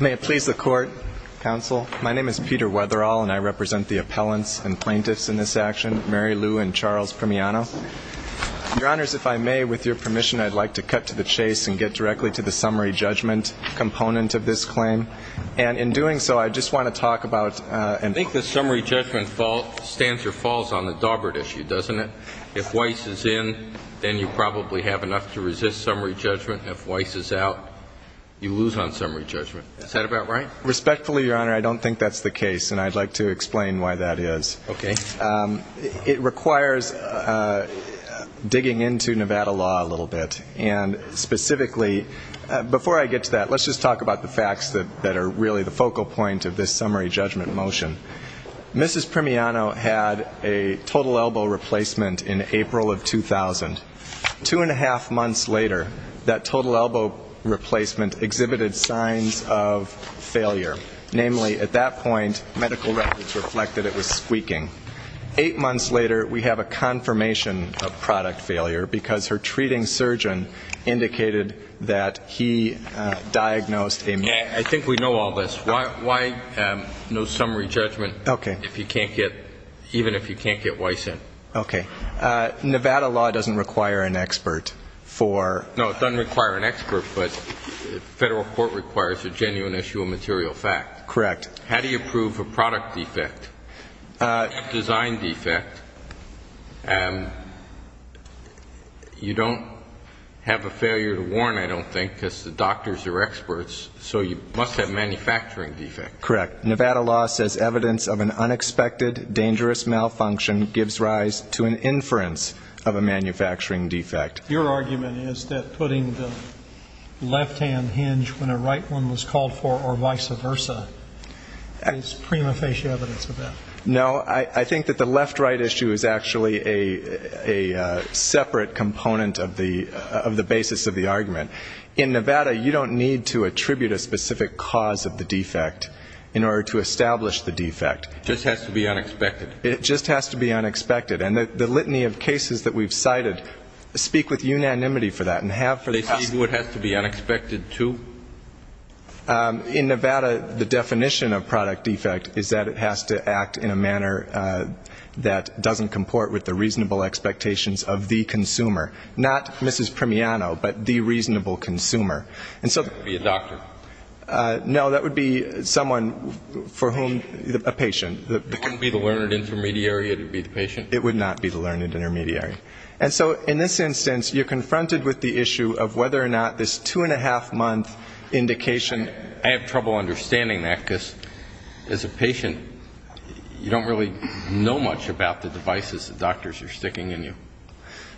May it please the Court, Counsel. My name is Peter Wetherall, and I represent the appellants and plaintiffs in this action, Mary Lou and Charles Primiano. Your Honors, if I may, with your permission, I'd like to cut to the chase and get directly to the summary judgment component of this claim. And in doing so, I just want to talk about and ---- I think the summary judgment stands or falls on the Daubert issue, doesn't it? If Weiss is in, then you probably have enough to resist summary judgment. If Weiss is out, you lose on summary judgment. Is that about right? Respectfully, Your Honor, I don't think that's the case, and I'd like to explain why that is. Okay. It requires digging into Nevada law a little bit. And specifically, before I get to that, let's just talk about the facts that are really the focal point of this summary judgment motion. Mrs. Primiano had a total elbow replacement in April of 2000. Two and a half months later, that total elbow replacement exhibited signs of failure. Namely, at that point, medical records reflected it was squeaking. Eight months later, we have a confirmation of product failure because her treating surgeon indicated that he diagnosed a ---- I think we know all this. Why no summary judgment? Okay. Even if you can't get Weiss in? Okay. Nevada law doesn't require an expert for ---- No, it doesn't require an expert, but federal court requires a genuine issue of material fact. Correct. How do you prove a product defect, a design defect? You don't have a failure to warn, I don't think, because the doctors are experts, so you must have manufacturing defects. Correct. Nevada law says evidence of an unexpected dangerous malfunction gives rise to an inference of a manufacturing defect. Your argument is that putting the left-hand hinge when a right one was called for or vice versa is prima facie evidence of that. No. I think that the left-right issue is actually a separate component of the basis of the argument. In Nevada, you don't need to attribute a specific cause of the defect in order to establish the defect. It just has to be unexpected. It just has to be unexpected. And the litany of cases that we've cited speak with unanimity for that and have for the ---- They see what has to be unexpected, too? In Nevada, the definition of product defect is that it has to act in a manner that doesn't comport with the reasonable expectations of the consumer, not Mrs. Primiano, but the reasonable consumer. And so ---- Be a doctor. No. That would be someone for whom ---- a patient. It wouldn't be the learned intermediary. It would be the patient. It would not be the learned intermediary. And so in this instance, you're confronted with the issue of whether or not this two-and-a-half-month indication ---- I have trouble understanding that because as a patient, you don't really know much about the devices the doctors are sticking in you.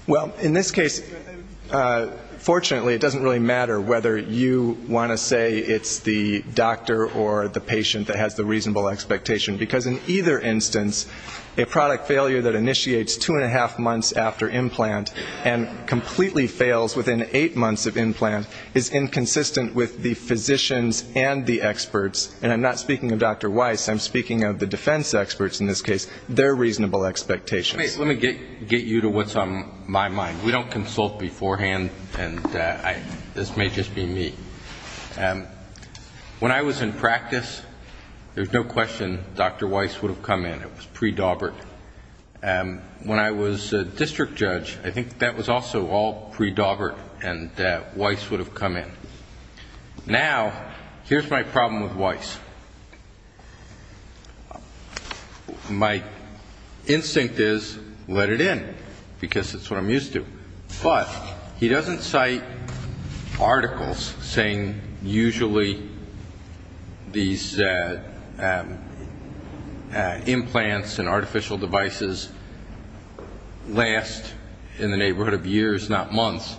Well, in this case, fortunately, it doesn't really matter whether you want to say it's the doctor or the patient that has the reasonable expectation. Because in either instance, a product failure that initiates two-and-a-half months after implant and completely fails within eight months of implant is inconsistent with the physicians and the experts. And I'm not speaking of Dr. Weiss. I'm speaking of the defense experts in this case, their reasonable expectations. Let me get you to what's on my mind. We don't consult beforehand, and this may just be me. When I was in practice, there's no question Dr. Weiss would have come in. It was pre-Daubert. When I was a district judge, I think that was also all pre-Daubert, and Weiss would have come in. Now, here's my problem with Weiss. My instinct is let it in, because it's what I'm used to. But he doesn't cite articles saying usually these implants and artificial devices last in the neighborhood of years, not months.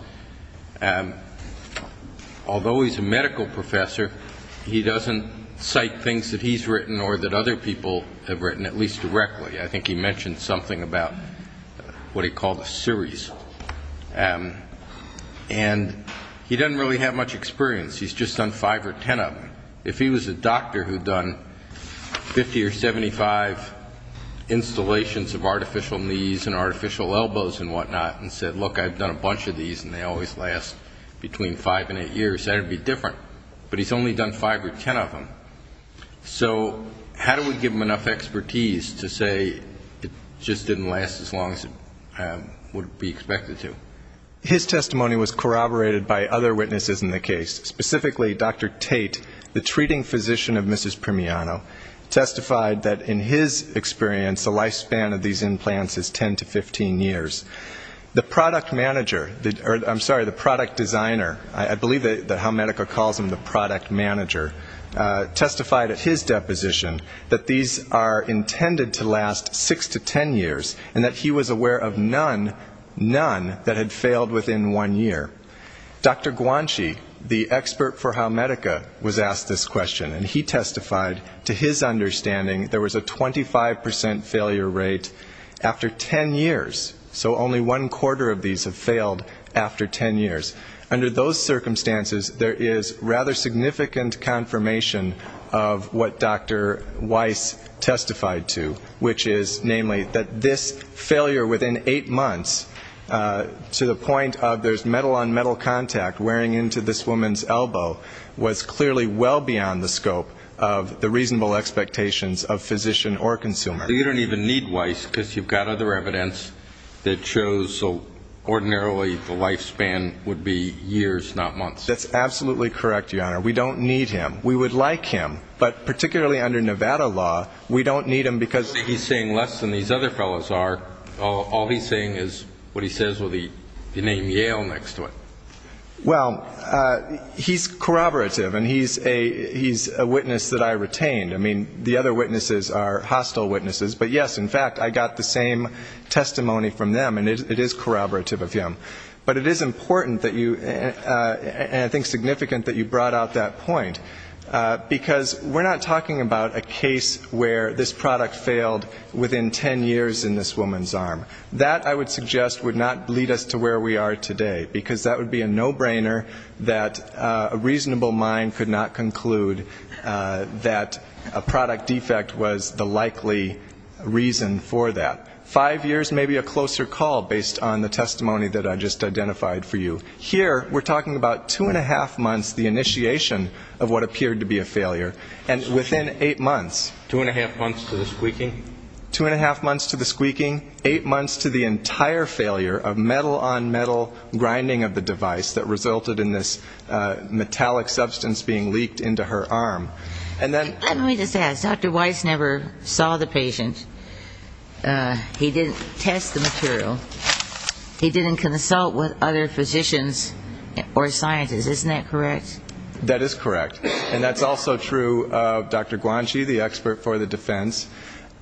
Although he's a medical professor, he doesn't cite things that he's written or that other people have written, at least directly. I think he mentioned something about what he called a series. And he doesn't really have much experience. He's just done five or ten of them. If he was a doctor who'd done 50 or 75 installations of artificial knees and artificial elbows and whatnot and said, look, I've done a bunch of these and they always last between five and eight years, that would be different, but he's only done five or ten of them. So how do we give him enough expertise to say it just didn't last as long as it would be expected to? His testimony was corroborated by other witnesses in the case, specifically Dr. Tate, the treating physician of Mrs. Primiano, testified that in his experience the lifespan of these implants is 10 to 15 years. The product manager, or I'm sorry, the product designer, I believe that's how Medica calls him, the product manager, testified at his deposition that these are intended to last six to ten years, and that he was aware of none, none, that had failed within one year. Dr. Guanchi, the expert for how Medica was asked this question, and he testified to his understanding there was a 25% failure rate after ten years. So only one quarter of these have failed after ten years. Under those circumstances, there is rather significant confirmation of what Dr. Weiss testified to, which is namely that this failure within eight months, to the point of there's metal-on-metal contact wearing into this woman's elbow, was clearly well beyond the scope of the reasonable expectations of physician or consumer. So you don't even need Weiss because you've got other evidence that shows ordinarily the lifespan would be years, not months. That's absolutely correct, Your Honor. We don't need him. We would like him, but particularly under Nevada law, we don't need him because He's saying less than these other fellows are. All he's saying is what he says with the name Yale next to it. Well, he's corroborative, and he's a witness that I retained. I mean, the other witnesses are hostile witnesses, but, yes, in fact, I got the same testimony from them, and it is corroborative of him. But it is important that you, and I think significant that you brought out that point, because we're not talking about a case where this product failed within 10 years in this woman's arm. That, I would suggest, would not lead us to where we are today, because that would be a no-brainer that a reasonable mind could not conclude that a product defect was the likely reason for that. Five years may be a closer call based on the testimony that I just identified for you. Here we're talking about two and a half months, the initiation of what appeared to be a failure, and within eight months. Two and a half months to the squeaking? Two and a half months to the squeaking, eight months to the entire failure of metal-on-metal grinding of the device that resulted in this metallic substance being leaked into her arm. Let me just ask, Dr. Weiss never saw the patient. He didn't test the material. He didn't consult with other physicians or scientists. Isn't that correct? That is correct. And that's also true of Dr. Guanji, the expert for the defense.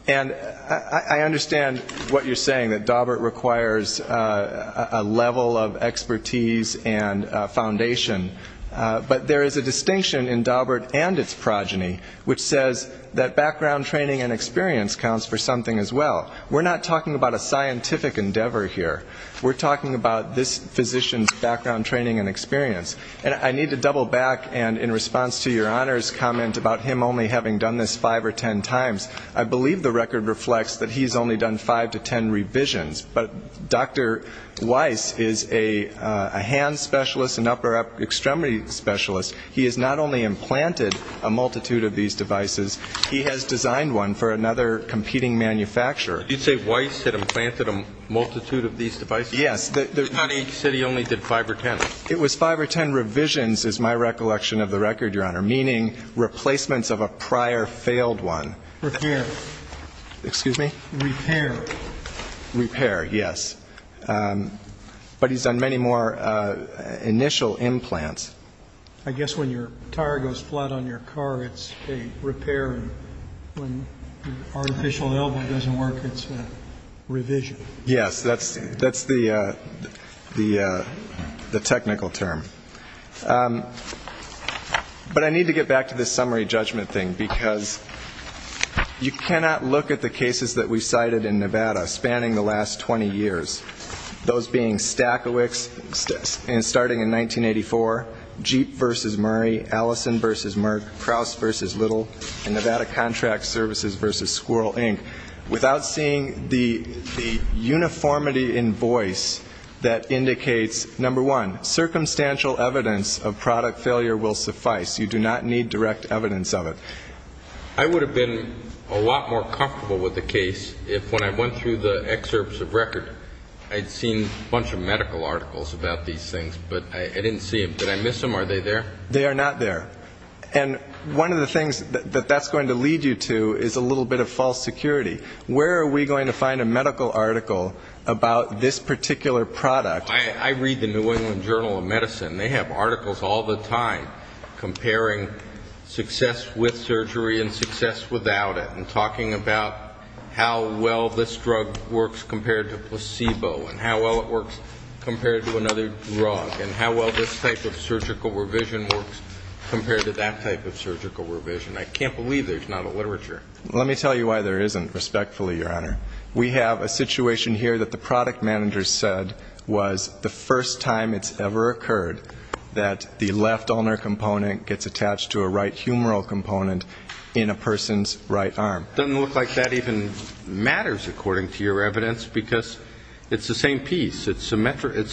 And I understand what you're saying, that Dawbert requires a level of expertise and foundation. But there is a distinction in Dawbert and its progeny, which says that background training and experience counts for something as well. We're not talking about a scientific endeavor here. We're talking about this physician's background training and experience. And I need to double back, and in response to your Honor's comment about him only having done this five or ten times, I believe the record reflects that he's only done five to ten revisions. But Dr. Weiss is a hand specialist, an upper extremity specialist. He has not only implanted a multitude of these devices, he has designed one for another competing manufacturer. Did you say Weiss had implanted a multitude of these devices? Yes. He said he only did five or ten. It was five or ten revisions is my recollection of the record, Your Honor, meaning replacements of a prior failed one. Repair, yes. But he's done many more initial implants. I guess when your tire goes flat on your car, it's a repair, and when your artificial elbow doesn't work, it's a revision. Yes. That's the technical term. But I need to get back to this summary judgment thing, because you cannot look at the cases that we cited in Nevada spanning the last 20 years, those being Stachowicz starting in 1984, Jeep v. Murray, Allison v. Merck, Kraus v. Little, and Nevada Contract Services v. Squirrel, Inc., without seeing the uniformity in voice that indicates, number one, circumstantial evidence of product failure will suffice. You do not need direct evidence of it. I would have been a lot more comfortable with the case if, when I went through the excerpts of record, I had seen a bunch of medical articles about these things, but I didn't see them. Did I miss them? Are they there? They are not there. And one of the things that that's going to lead you to is a little bit of false security. Where are we going to find a medical article about this particular product? I read the New England Journal of Medicine. They have articles all the time comparing success with surgery and success without it, and talking about how well this drug works compared to placebo, and how well it works compared to another drug, and how well this type of surgical revision works compared to placebo. I can't believe there's not a literature. Let me tell you why there isn't, respectfully, Your Honor. We have a situation here that the product manager said was the first time it's ever occurred that the left ulnar component gets attached to a right humeral component in a person's right arm. Doesn't look like that even matters, according to your evidence, because it's the same piece. It's a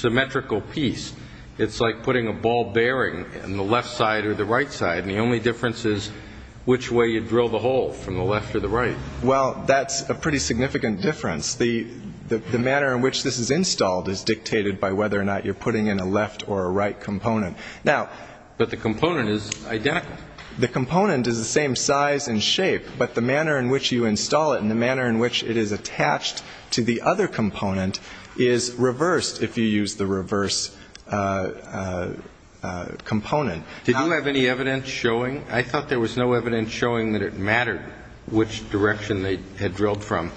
symmetrical piece. It's like putting a ball bearing in the left side or the right side, and the only difference is which way you drill the hole, from the left or the right. Well, that's a pretty significant difference. The manner in which this is installed is dictated by whether or not you're putting in a left or a right component. But the component is identical. The component is the same size and shape, but the manner in which you install it and the manner in which it is attached to the other component is reversed if you use the reverse component. Did you have any evidence showing? I thought there was no evidence showing that it mattered which direction they had drilled from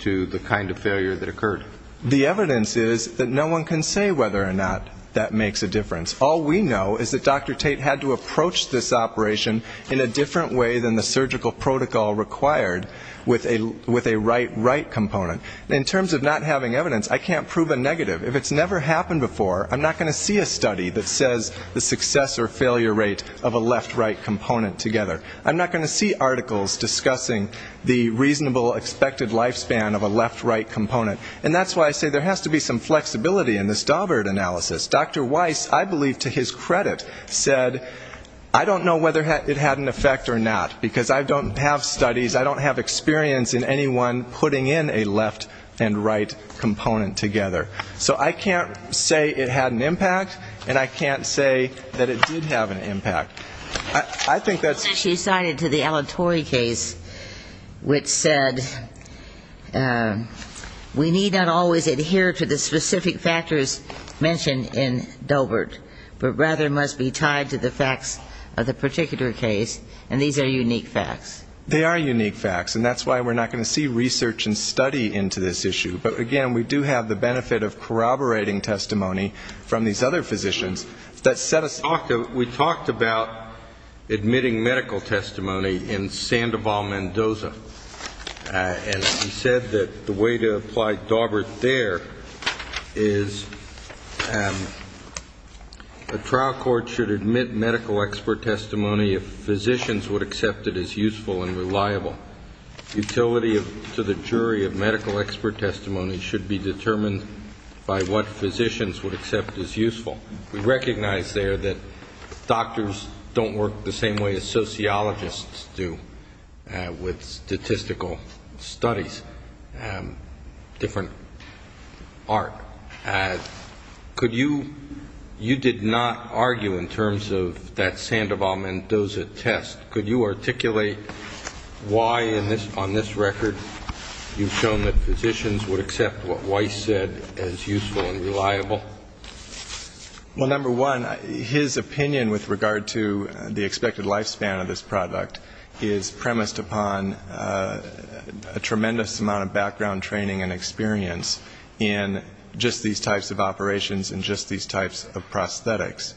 to the kind of failure that occurred. The evidence is that no one can say whether or not that makes a difference. All we know is that Dr. Tate had to approach this operation in a different way than the surgical protocol required with a right-right component. In terms of not having evidence, I can't prove a negative. If it's never happened before, I'm not going to see a study that says the success or failure rate of a left-right component together. I'm not going to see articles discussing the reasonable expected lifespan of a left-right component. And that's why I say there has to be some flexibility in this Daubert analysis. Dr. Weiss, I believe to his credit, said, I don't know whether it had an effect or not, because I don't have studies, I don't have experience in anyone putting in a left and right component together. So I can't say it had an impact, and I can't say that it did have an impact. And I would add to the Alan Torrey case, which said we need not always adhere to the specific factors mentioned in Daubert, but rather must be tied to the facts of the particular case, and these are unique facts. They are unique facts, and that's why we're not going to see research and study into this issue. But, again, we do have the benefit of corroborating testimony from these other physicians that set us up. We talked about admitting medical testimony in Sandoval-Mendoza, and he said that the way to apply Daubert there is a trial court should admit medical expert testimony if physicians would accept it as useful and reliable. Utility to the jury of medical expert testimony should be determined by what physicians would accept as useful. We recognize there that doctors don't work the same way as sociologists do with statistical studies, different art. Could you, you did not argue in terms of that Sandoval-Mendoza test, could you articulate why on this record you've shown that physicians would accept what Weiss said as useful and reliable? Well, number one, his opinion with regard to the expected lifespan of this product is premised upon a tremendous amount of background training and experience in just these types of operations and just these types of prosthetics.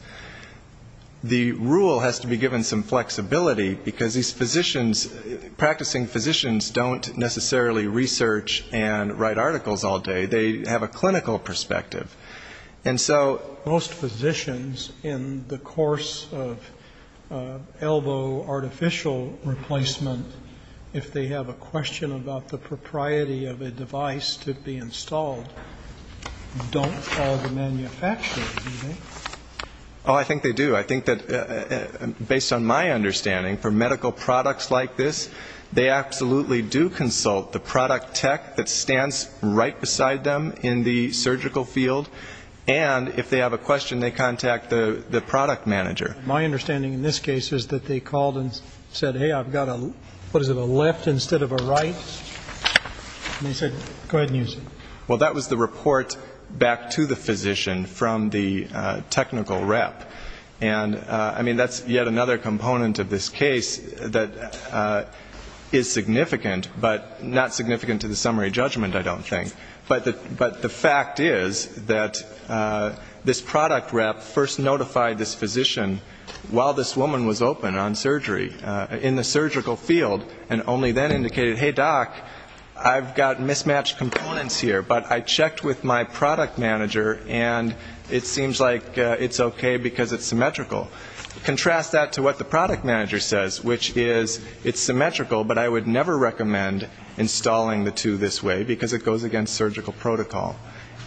The rule has to be given some flexibility, because these physicians, practicing physicians don't necessarily research and write articles all day. They have a clinical perspective. And so... Most physicians in the course of elbow artificial replacement, if they have a question about the propriety of a device to be installed, don't call the manufacturer, do they? Oh, I think they do. I think that, based on my understanding, for medical products like this, they absolutely do consult the product tech that stands right beside them in the surgical field. And if they have a question, they contact the product manager. My understanding in this case is that they called and said, hey, I've got a, what is it, a left instead of a right? And he said, go ahead and use it. Well, that was the report back to the physician from the technical rep. And, I mean, that's yet another component of this case that is significant, but not significant to the summary judgment, I don't think. But the fact is that this product rep first notified this physician while this woman was open on surgery, in the surgical field, and only then indicated, hey, doc, I've got mismatched components here, but I checked with my product manager, and it seems like it's okay because it's symmetrical. Contrast that to what the product manager says, which is, it's symmetrical, but I would never recommend installing the two this way, because it goes against surgical protocol.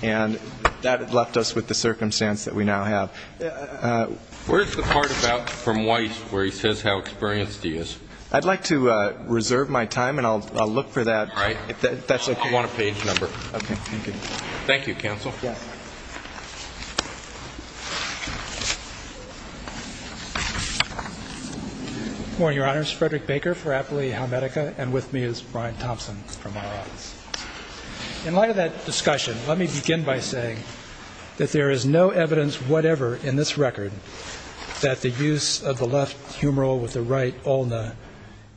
And that left us with the circumstance that we now have. Where's the part about from Weiss where he says how experienced he is? I'd like to reserve my time, and I'll look for that, if that's okay. I want a page number. Thank you, counsel. Good morning, Your Honors. My name is Frederick Baker for Appellee Helmetica, and with me is Brian Thompson from my office. In light of that discussion, let me begin by saying that there is no evidence whatever in this record that the use of the left humeral with the right ulna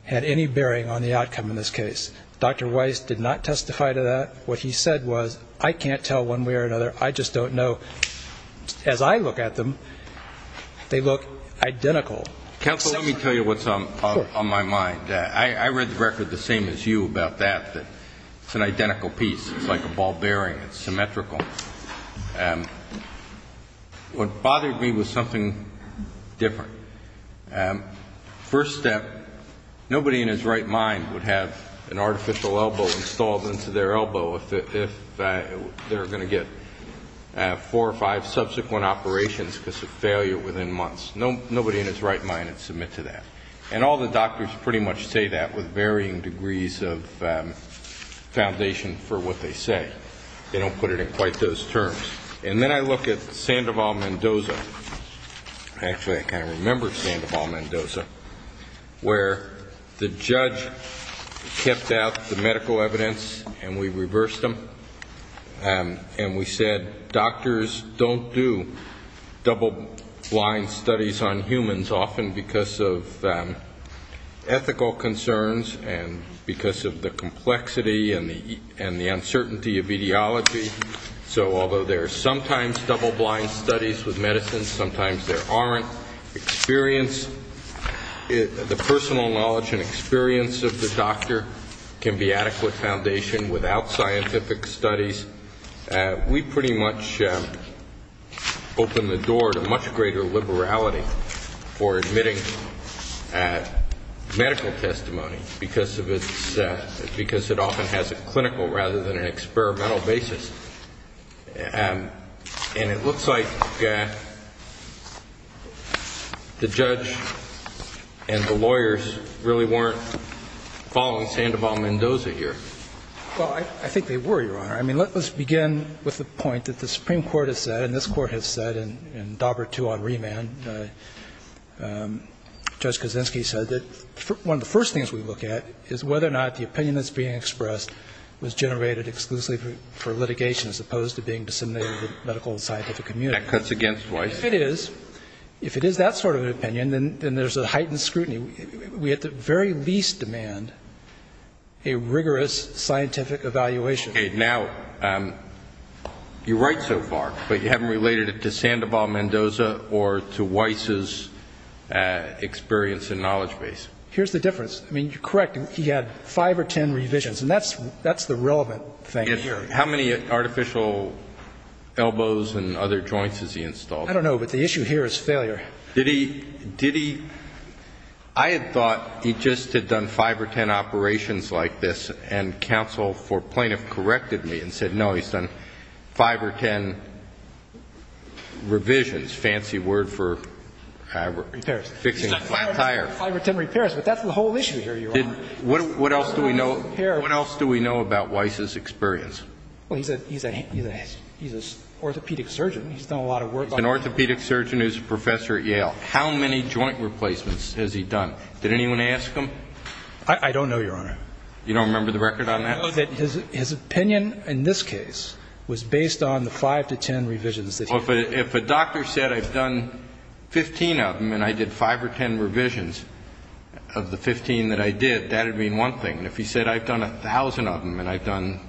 had any bearing on the outcome in this case. Dr. Weiss did not testify to that. What he said was, I can't tell one way or another, I just don't know. As I look at them, they look identical. Counsel, let me tell you what's on my mind. I read the record the same as you about that, that it's an identical piece. It's like a ball bearing. It's symmetrical. What bothered me was something different. First step, nobody in his right mind would have an artificial elbow installed into their elbow if they're going to get four or five subsequent operations because of failure within months. Nobody in his right mind would submit to that. And all the doctors pretty much say that with varying degrees of foundation for what they say. They don't put it in quite those terms. And then I look at Sandoval-Mendoza. Actually, I kind of remember Sandoval-Mendoza, where the judge kept out the medical evidence and we reversed them, and we said, doctors don't do double-blind studies on humans often because of their ability to see. Ethical concerns, and because of the complexity and the uncertainty of etiology. So although there are sometimes double-blind studies with medicine, sometimes there aren't. Experience, the personal knowledge and experience of the doctor can be adequate foundation without scientific studies. We pretty much opened the door to much greater liberality for admitting a medical condition. Medical testimony, because it often has a clinical rather than an experimental basis. And it looks like the judge and the lawyers really weren't following Sandoval-Mendoza here. Well, I think they were, Your Honor. I mean, let's begin with the point that the Supreme Court has said, and this Court has said in Daubert II on remand, Judge Kaczynski said that one of the first things we look at is whether or not the opinion that's being expressed was generated exclusively for litigation as opposed to being disseminated to the medical and scientific community. That cuts against Wife. If it is, if it is that sort of an opinion, then there's a heightened scrutiny. We at the very least demand a rigorous scientific evaluation. Okay. Now, you're right so far, but you haven't related it to Sandoval-Mendoza or to Weiss's experience and knowledge base. Here's the difference. I mean, you're correct. He had five or ten revisions, and that's the relevant thing here. How many artificial elbows and other joints has he installed? I don't know, but the issue here is failure. Did he? I had thought he just had done five or ten operations like this, and counsel for plaintiff corrected me and said, no, he's done five or ten revisions. Fancy word for fixing a flat tire. Five or ten repairs, but that's the whole issue here, Your Honor. What else do we know about Weiss's experience? Well, he's an orthopedic surgeon. He's done a lot of work. He's an orthopedic surgeon who's a professor at Yale. How many joint replacements has he done? Did anyone ask him? I don't know, Your Honor. You don't remember the record on that? I know that his opinion in this case was based on the five to ten revisions that he had done. Well, if a doctor said I've done 15 of them and I did five or ten revisions of the 15 that I did, that would mean one thing. And if he said I've done a thousand of them and I've done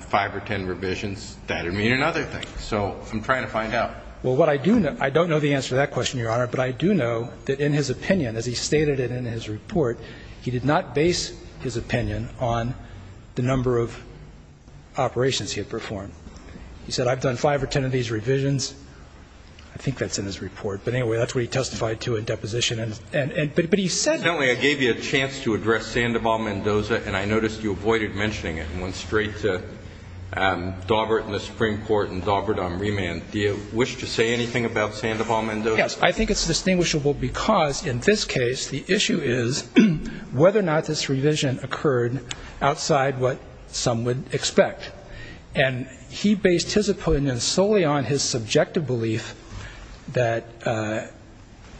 five or ten revisions, that would mean another thing. So I'm trying to find out. Well, what I do know, I don't know the answer to that question, Your Honor, but I do know that in his opinion, as he stated it in his report, he did not base his opinion on the number of operations he had performed. He said I've done five or ten of these revisions. I think that's in his report, but anyway, that's what he testified to in deposition. I gave you a chance to address Sandoval-Mendoza, and I noticed you avoided mentioning it and went straight to Dawbert in the Supreme Court and Dawbert on remand. Do you wish to say anything about Sandoval-Mendoza? Yes, I think it's distinguishable because in this case the issue is whether or not this revision occurred outside what some would expect. And he based his opinion solely on his subjective belief that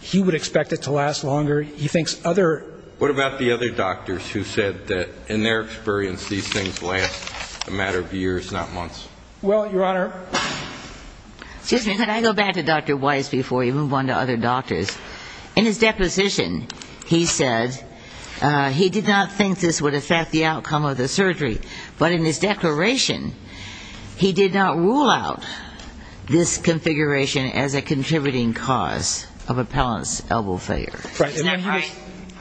he would expect it to last. He thinks other... What about the other doctors who said that in their experience these things last a matter of years, not months? Well, Your Honor, excuse me, could I go back to Dr. Weiss before we move on to other doctors? In his deposition he said he did not think this would affect the outcome of the surgery, but in his declaration he did not rule out this configuration as a contributing cause of appellant's elbow failure. Isn't that right?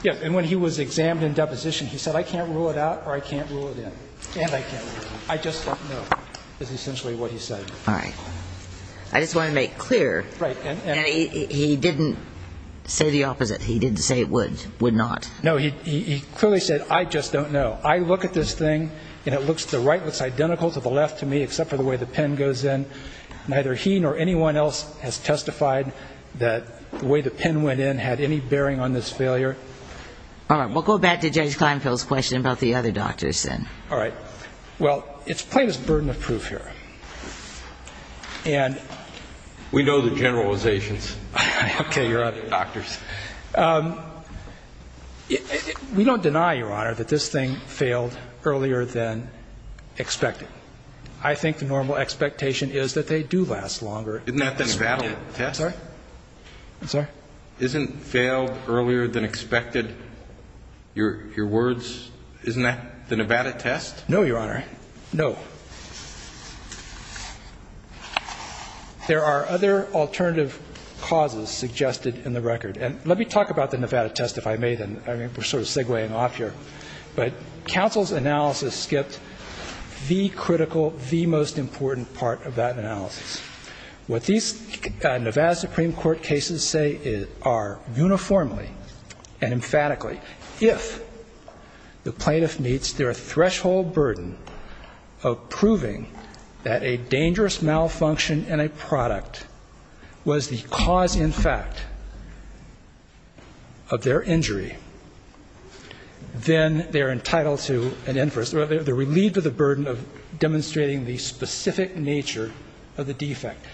Yes, and when he was examined in deposition he said I can't rule it out or I can't rule it in, and I can't rule it in. I just don't know is essentially what he said. All right. I just want to make clear that he didn't say the opposite. All right. Well, it's plain as burden of proof here, and... We know the generalizations. Okay, Your Honor. We don't deny, Your Honor, that this thing failed earlier than expected. I think the normal expectation is that they do last longer. Isn't that the Nevada test? I'm sorry? Isn't failed earlier than expected, your words, isn't that the Nevada test? No, Your Honor, no. There are other alternative causes suggested in the record, and let me talk about the Nevada test, if I may, then. I mean, we're sort of segueing off here, but counsel's analysis skipped the critical, the most important part of that analysis. What these Nevada Supreme Court cases say are uniformly and emphatically, if the plaintiff meets their threshold burden of proving that a dangerous malfunction in a product was the cause in fact of their injury, then they're entitled to an inference, or they're relieved of the burden of demonstrating the specific nature of the defect.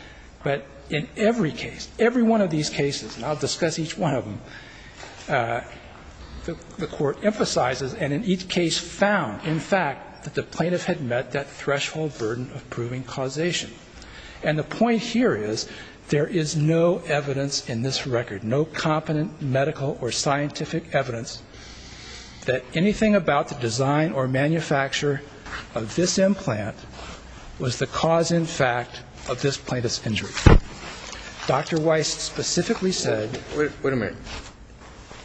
But in every case, every one of these cases, and I'll discuss each one of them, the Court emphasizes, and in each case found, in fact, that the plaintiff had met that threshold burden of proving causation. And the point here is there is no evidence in this record, no competent medical or scientific evidence that anything about the design or manufacture of this implant was the cause in fact of this plaintiff's injury. Dr. Weiss specifically said --" Wait a minute.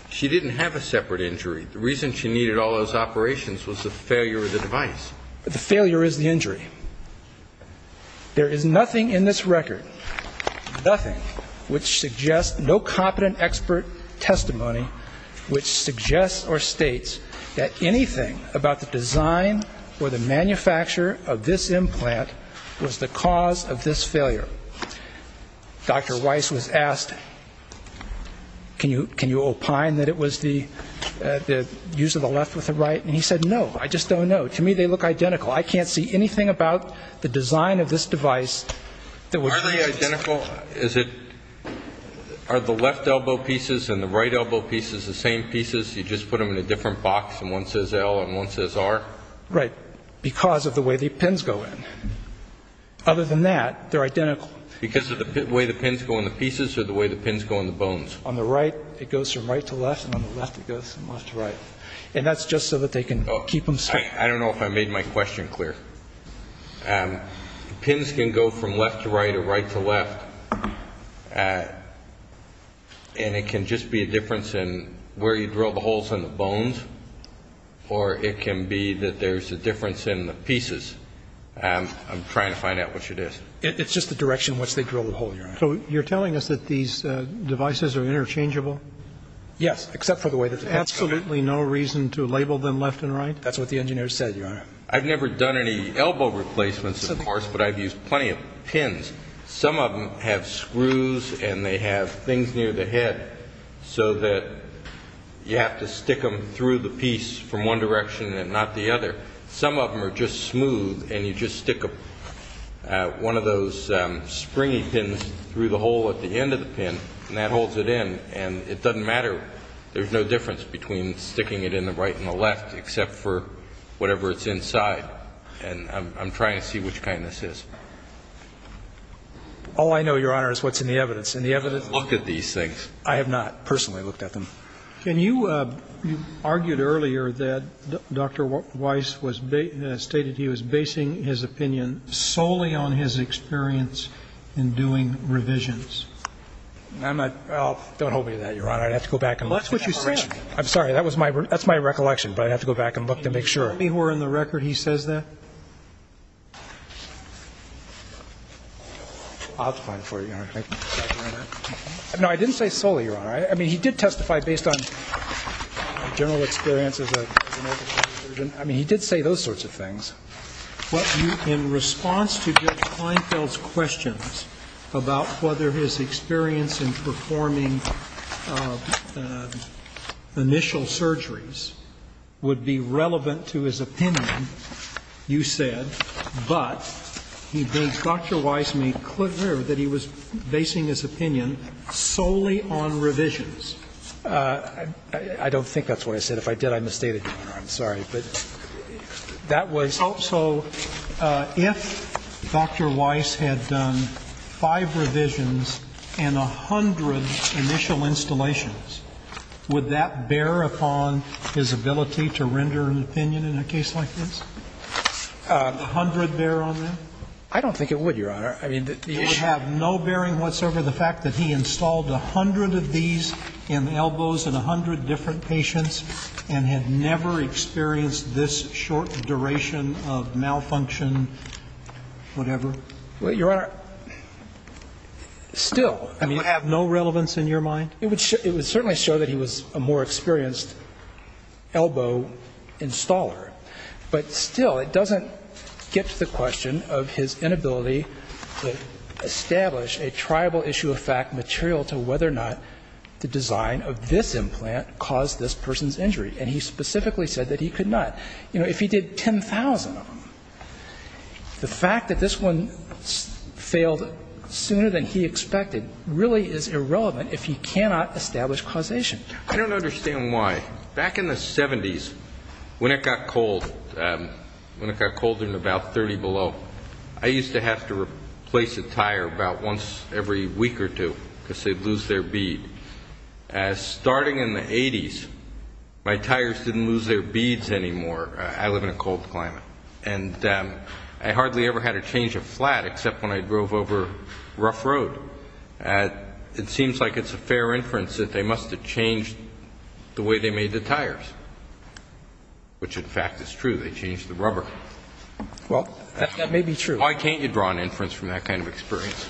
She didn't have a separate injury. The reason she needed all those operations was the failure of the device. The failure is the injury. There is nothing in this record, nothing, which suggests no competent expert testimony which suggests or states that anything about the design or the manufacture of this implant was the cause of this failure. Dr. Weiss was asked, can you opine that it was the use of the left with the right? And he said, no, I just don't know. To me, they look identical. I can't see anything about the design of this device that was used. They look identical? Are the left elbow pieces and the right elbow pieces the same pieces? You just put them in a different box and one says L and one says R? Right. Because of the way the pins go in. Other than that, they're identical. Because of the way the pins go in the pieces or the way the pins go in the bones? On the right, it goes from right to left, and on the left, it goes from left to right. And that's just so that they can keep them separate. I don't know if I made my question clear. Pins can go from left to right or right to left. And it can just be a difference in where you drill the holes in the bones, or it can be that there's a difference in the pieces. I'm trying to find out which it is. It's just the direction in which they drill the hole, Your Honor. So you're telling us that these devices are interchangeable? Yes, except for the way that they're placed. Absolutely no reason to label them left and right? That's what the engineer said, Your Honor. I've never done any elbow replacements, of course, but I've used plenty of pins. Some of them have screws, and they have things near the head so that you have to stick them through the piece from one direction and not the other. Some of them are just smooth, and you just stick one of those springy pins through the hole at the end of the pin, and that holds it in. And it doesn't matter. There's no difference between sticking it in the right and the left, except for whatever it's inside. And I'm trying to see which kind this is. All I know, Your Honor, is what's in the evidence. And the evidence looks at these things. I have not personally looked at them. And you argued earlier that Dr. Weiss stated he was basing his opinion solely on his experience in doing revisions. Don't hold me to that, Your Honor. I'd have to go back and look. Well, that's what you said. I'm sorry. That's my recollection. But I'd have to go back and look to make sure. Can you tell me who are in the record he says that? I'll define it for you, Your Honor. No, I didn't say solely, Your Honor. I mean, he did testify based on general experience as a United States version. I mean, he did say those sorts of things. But in response to Judge Kleinfeld's questions about whether his experience in performing initial surgeries would be relevant to his opinion, you said, but he thinks Dr. Weiss made clear that he was basing his opinion solely on revisions. I don't think that's what I said. If I did, I misstated, Your Honor. I'm sorry. But that was. So if Dr. Weiss had done five revisions and a hundred initial installations, would that bear upon his ability to render an opinion in a case like this? Would a hundred bear on that? I don't think it would, Your Honor. I mean, the issue. It would have no bearing whatsoever, the fact that he installed a hundred of these in elbows in a hundred different patients and had never experienced this short duration of malfunction, whatever. Well, Your Honor, still. I mean, it would have no relevance in your mind? It would certainly show that he was a more experienced elbow installer. But still, it doesn't get to the question of his inability to establish a triable issue of fact material to whether or not the design of this implant caused this person's injury. And he specifically said that he could not. You know, if he did 10,000 of them, the fact that this one failed sooner than he expected really is irrelevant if he cannot establish causation. I don't understand why. Back in the 70s, when it got cold, when it got colder and about 30 below, I used to have to replace a tire about once every week or two because they'd lose their bead. Starting in the 80s, my tires didn't lose their beads anymore. I live in a cold climate. And I hardly ever had to change a flat except when I drove over rough road. It seems like it's a fair inference that they must have changed the way they made the tires, which, in fact, is true. They changed the rubber. Well, that may be true. Why can't you draw an inference from that kind of experience?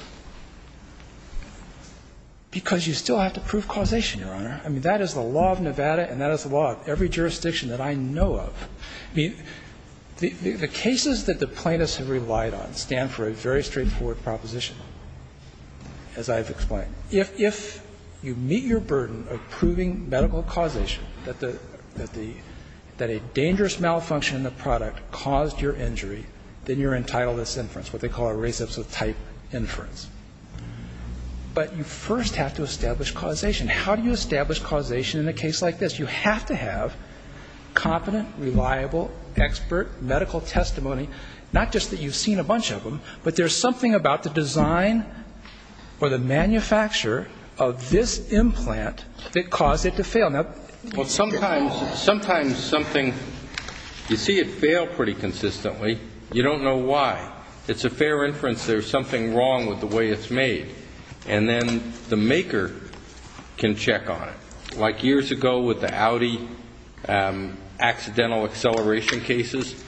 Because you still have to prove causation, Your Honor. I mean, that is the law of Nevada and that is the law of every jurisdiction that I know of. I mean, the cases that the plaintiffs have relied on stand for a very straightforward proposition, as I have explained. If you meet your burden of proving medical causation, that a dangerous malfunction in the product caused your injury, then you're entitled to this inference, what they call a race-episode-type inference. But you first have to establish causation. How do you establish causation in a case like this? You have to have competent, reliable, expert medical testimony, not just that you've seen a bunch of them, but there's something about the design or the manufacture of this implant that caused it to fail. Well, sometimes something, you see it fail pretty consistently, you don't know why. It's a fair inference there's something wrong with the way it's made. And then the maker can check on it. Like years ago with the Audi accidental acceleration cases,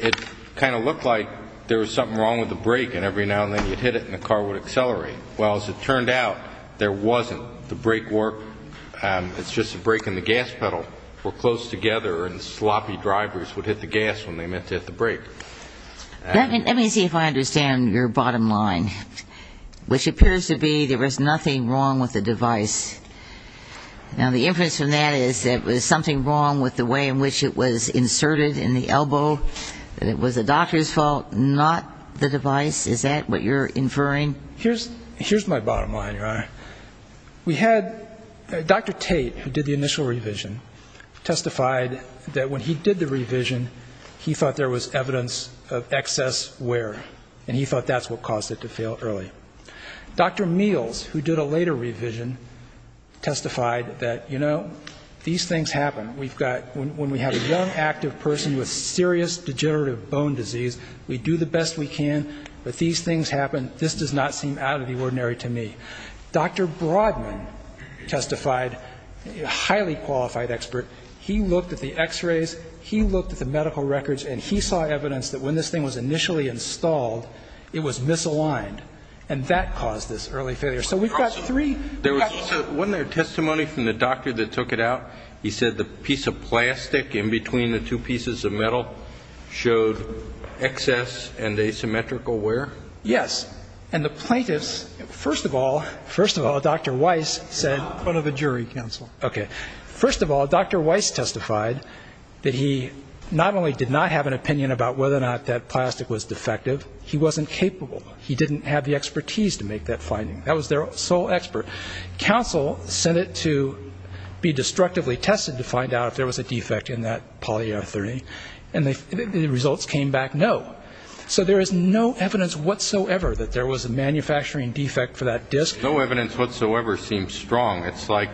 it kind of looked like there was something wrong with the brake and every now and then you'd hit it and the car would accelerate. Well, as it turned out, there wasn't. The brake work, it's just the brake and the gas pedal were close together and sloppy drivers would hit the gas when they meant to hit the brake. Let me see if I understand your bottom line, which appears to be there was nothing wrong with the device. Now, the inference from that is that there was something wrong with the way in which it was inserted in the elbow, that it was the doctor's fault, not the device. Is that what you're inferring? Here's my bottom line, Your Honor. We had Dr. Tate, who did the initial revision, testified that when he did the revision he thought there was evidence of excess wear and he thought that's what caused it to fail early. Dr. Meals, who did a later revision, testified that, you know, these things happen. When we have a young active person with serious degenerative bone disease, we do the best we can, but these things happen. This does not seem out of the ordinary to me. Dr. Broadman testified, a highly qualified expert. He looked at the x-rays, he looked at the medical records, and he saw evidence that when this thing was initially installed, it was misaligned, and that caused this early failure. So we've got three factors. Wasn't there testimony from the doctor that took it out? He said the piece of plastic in between the two pieces of metal showed excess and asymmetrical wear? Yes. And the plaintiffs, first of all, Dr. Weiss said... In front of a jury, counsel. Okay. First of all, Dr. Weiss testified that he not only did not have an opinion about whether or not that plastic was defective, he wasn't capable. He didn't have the expertise to make that finding. That was their sole expert. Counsel sent it to be destructively tested to find out if there was a defect in that polyurethane, and the results came back no. So there is no evidence whatsoever that there was a manufacturing defect for that disc. No evidence whatsoever seems strong. It's like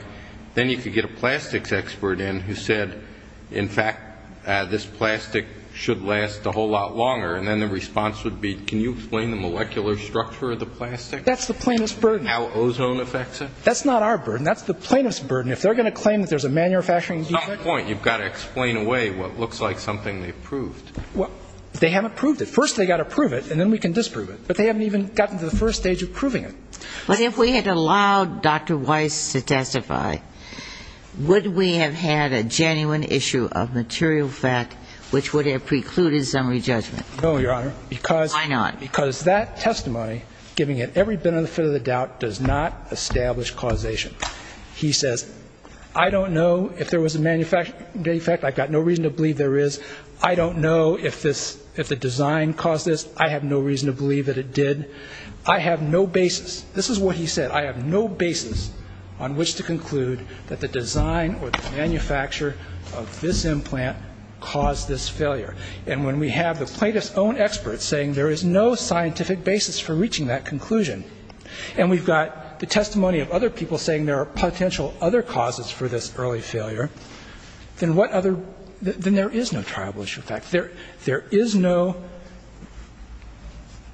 then you could get a plastics expert in who said, in fact, this plastic should last a whole lot longer, and then the response would be, can you explain the molecular structure of the plastic? That's the plaintiff's burden. And how ozone affects it? That's not our burden. That's the plaintiff's burden. If they're going to claim that there's a manufacturing defect... It's not the point. You've got to explain away what looks like something they've proved. Well, they haven't proved it. First they've got to prove it, and then we can disprove it. But they haven't even gotten to the first stage of proving it. But if we had allowed Dr. Weiss to testify, would we have had a genuine issue of material fact which would have precluded summary judgment? No, Your Honor. Why not? Because that testimony, giving it every benefit of the doubt, does not establish causation. He says, I don't know if there was a manufacturing defect. I've got no reason to believe there is. I don't know if the design caused this. I have no reason to believe that it did. I have no basis. This is what he said. I have no basis on which to conclude that the design or the manufacture of this implant caused this failure. And when we have the plaintiff's own experts saying there is no scientific basis for reaching that conclusion, and we've got the testimony of other people saying there are potential other causes for this early failure, then what other ‑‑ then there is no tribal issue of fact. There is no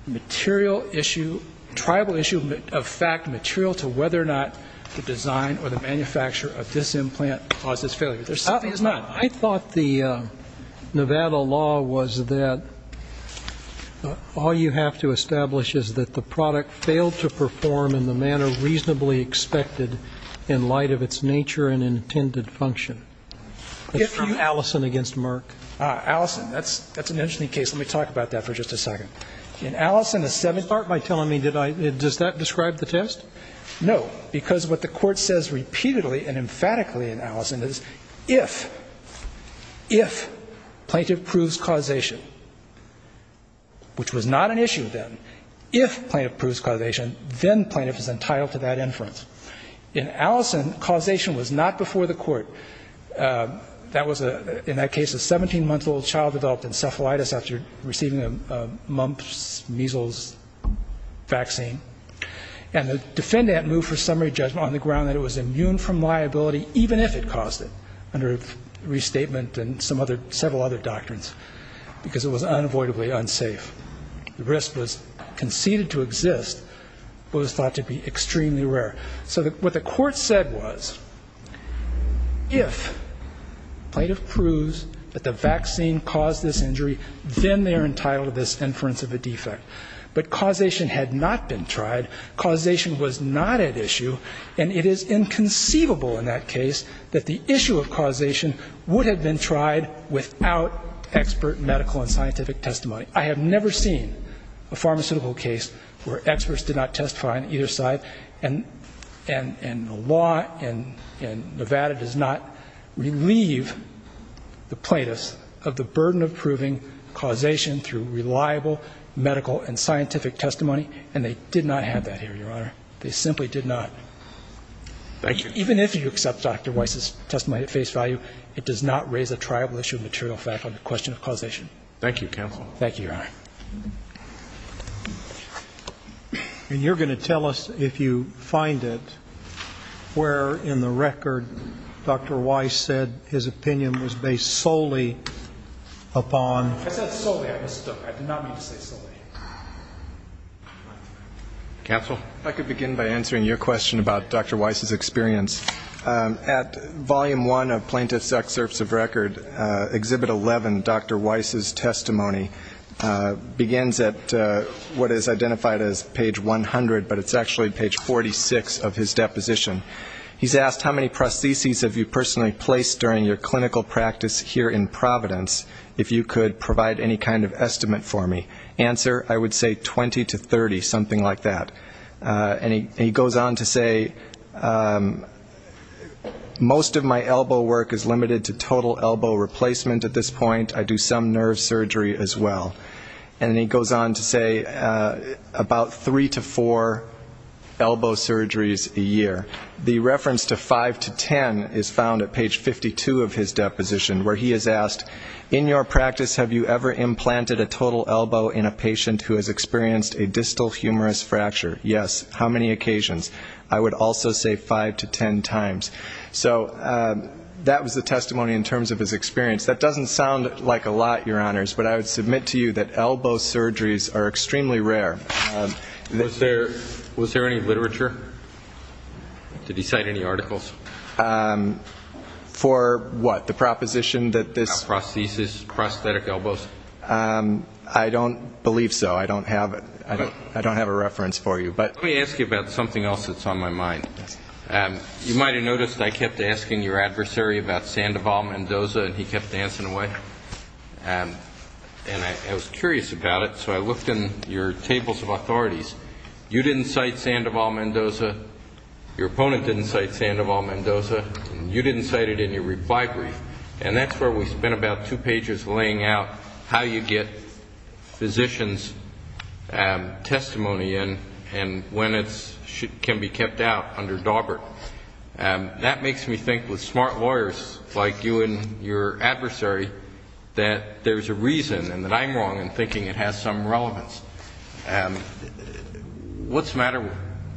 material issue, tribal issue of fact, material to whether or not the design or the manufacture of this implant caused this failure. There simply is not. I thought the Nevada law was that all you have to establish is that the product failed to perform in the manner reasonably expected in light of its nature and intended function. It's from Allison against Merck. Allison. That's an interesting case. Let me talk about that for just a second. In Allison, the seventh part, by telling me ‑‑ does that describe the test? No. No, because what the court says repeatedly and emphatically in Allison is if, if plaintiff proves causation, which was not an issue then, if plaintiff proves causation, then plaintiff is entitled to that inference. In Allison, causation was not before the court. That was, in that case, a 17‑month‑old child developed encephalitis after receiving a mumps, measles vaccine. And the defendant moved for summary judgment on the ground that it was immune from liability, even if it caused it, under restatement and several other doctrines, because it was unavoidably unsafe. The risk was conceded to exist, but was thought to be extremely rare. So what the court said was, if plaintiff proves that the vaccine caused this injury, then they are entitled to this inference of a defect. But causation had not been tried. Causation was not at issue. And it is inconceivable in that case that the issue of causation would have been tried without expert medical and scientific testimony. I have never seen a pharmaceutical case where experts did not testify on either side. And the law in Nevada does not relieve the plaintiffs of the burden of proving causation through reliable medical and scientific testimony. And they did not have that here, Your Honor. They simply did not. Thank you. Even if you accept Dr. Weiss' testimony at face value, it does not raise a triable issue of material fact on the question of causation. Thank you, counsel. Thank you, Your Honor. And you're going to tell us, if you find it, where in the record Dr. Weiss said his opinion was based solely upon? I said solely. I mistook. I did not mean to say solely. Counsel? If I could begin by answering your question about Dr. Weiss' experience. At Volume 1 of Plaintiff's Excerpts of Record, Exhibit 11, Dr. Weiss' testimony begins at what is identified as page 100, but it's actually page 46 of his deposition. He's asked, How many prostheses have you personally placed during your clinical practice here in Providence, if you could provide any kind of estimate for me? Answer, I would say 20 to 30, something like that. And he goes on to say, Most of my elbow work is limited to total elbow replacement at this point. I do some nerve surgery as well. And then he goes on to say about three to four elbow surgeries a year. The reference to five to ten is found at page 52 of his deposition, where he has asked, In your practice, have you ever implanted a total elbow in a patient who has experienced a distal humerus fracture? Yes. How many occasions? I would also say five to ten times. So that was the testimony in terms of his experience. That doesn't sound like a lot, Your Honors, but I would submit to you that elbow surgeries are extremely rare. Was there any literature? Did he cite any articles? For what? The proposition that this prosthesis, prosthetic elbows? I don't believe so. I don't have a reference for you. Let me ask you about something else that's on my mind. You might have noticed I kept asking your adversary about Sandoval Mendoza, and he kept dancing away. And I was curious about it, so I looked in your tables of authorities. You didn't cite Sandoval Mendoza. Your opponent didn't cite Sandoval Mendoza. You didn't cite it in your reply brief. And that's where we spent about two pages laying out how you get physicians' testimony and when it can be kept out under Daubert. That makes me think, with smart lawyers like you and your adversary, that there's a reason, and that I'm wrong in thinking it has some relevance. What's the matter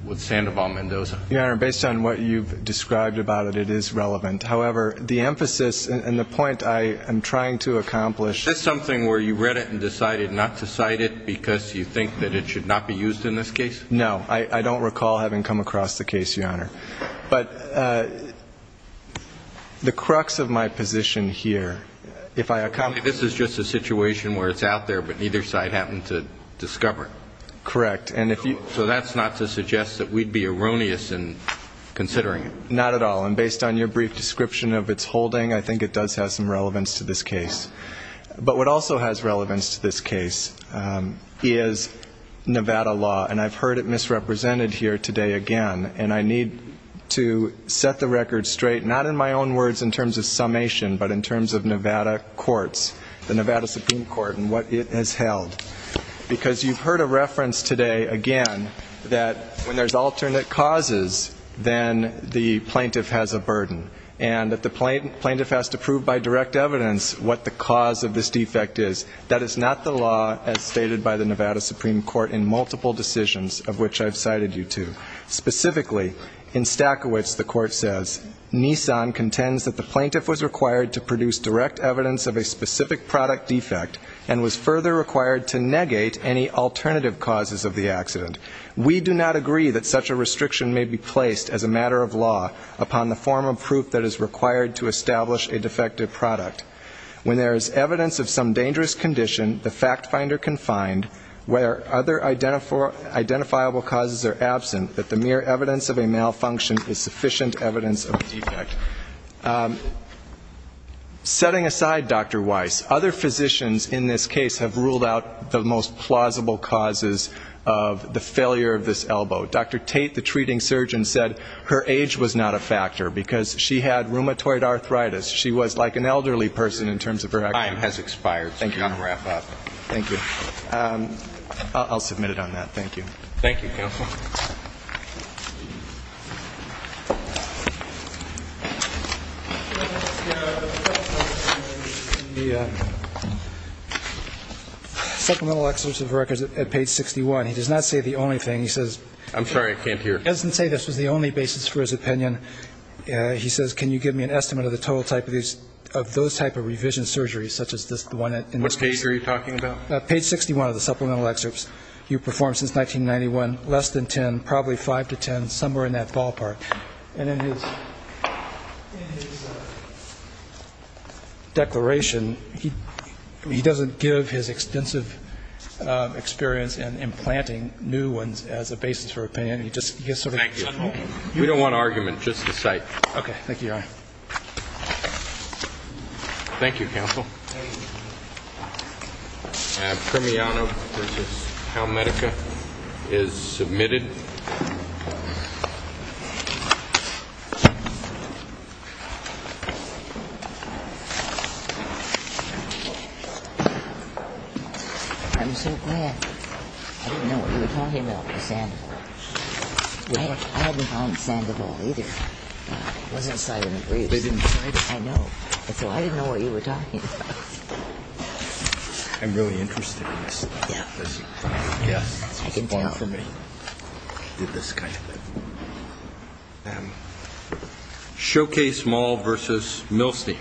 with Sandoval Mendoza? Your Honor, based on what you've described about it, it is relevant. However, the emphasis and the point I am trying to accomplish Is this something where you read it and decided not to cite it because you think that it should not be used in this case? No. I don't recall having come across the case, Your Honor. But the crux of my position here, if I accomplish This is just a situation where it's out there, but neither side happened to discover it. Correct. So that's not to suggest that we'd be erroneous in considering it. Not at all. And based on your brief description of its holding, I think it does have some relevance to this case. But what also has relevance to this case is Nevada law. And I've heard it misrepresented here today again. And I need to set the record straight, not in my own words in terms of summation, but in terms of Nevada courts, the Nevada Supreme Court and what it has held. Because you've heard a reference today, again, that when there's alternate causes, then the plaintiff has a burden. And that the plaintiff has to prove by direct evidence what the cause of this defect is. That is not the law as stated by the Nevada Supreme Court in multiple decisions, of which I've cited you to. Specifically, in Stachowicz, the court says, Nissan contends that the plaintiff was required to produce direct evidence of a specific product defect and was further required to negate any alternative causes of the accident. We do not agree that such a restriction may be placed as a matter of law upon the form of proof that is required to establish a defective product. When there is evidence of some dangerous condition, the fact finder can find where other identifiable causes are absent, that the mere evidence of a malfunction is sufficient evidence of a defect. Setting aside Dr. Weiss, other physicians in this case have ruled out the most plausible causes of the failure of this elbow. Dr. Tate, the treating surgeon, said her age was not a factor because she had rheumatoid arthritis. She was like an elderly person in terms of her activity. The time has expired, so we're going to wrap up. Thank you. I'll submit it on that. Thank you. Thank you, counsel. The supplemental excerpts of records at page 61, he does not say the only thing. He says he doesn't say this was the only basis for his opinion. He says, can you give me an estimate of the total type of those type of revision surgeries, such as the one in this case? Which case are you talking about? Page 61 of the supplemental excerpts. You performed since 1991, less than 10, probably 5 to 10, somewhere in that ballpark. And in his declaration, he doesn't give his extensive experience in implanting new ones as a basis for opinion. Thank you. We don't want argument, just the site. Okay. Thank you, Your Honor. Thank you, counsel. Thank you. Cremiano versus Hamedica is submitted. I'm so glad. I didn't know what you were talking about with Sandoval. I hadn't found Sandoval, either. I was inside in the breeze. I know. So I didn't know what you were talking about. I'm really interested in this. Yeah. Yes. It's a bummer for me. I did this kind of thing. Showcase Mall versus Milstein.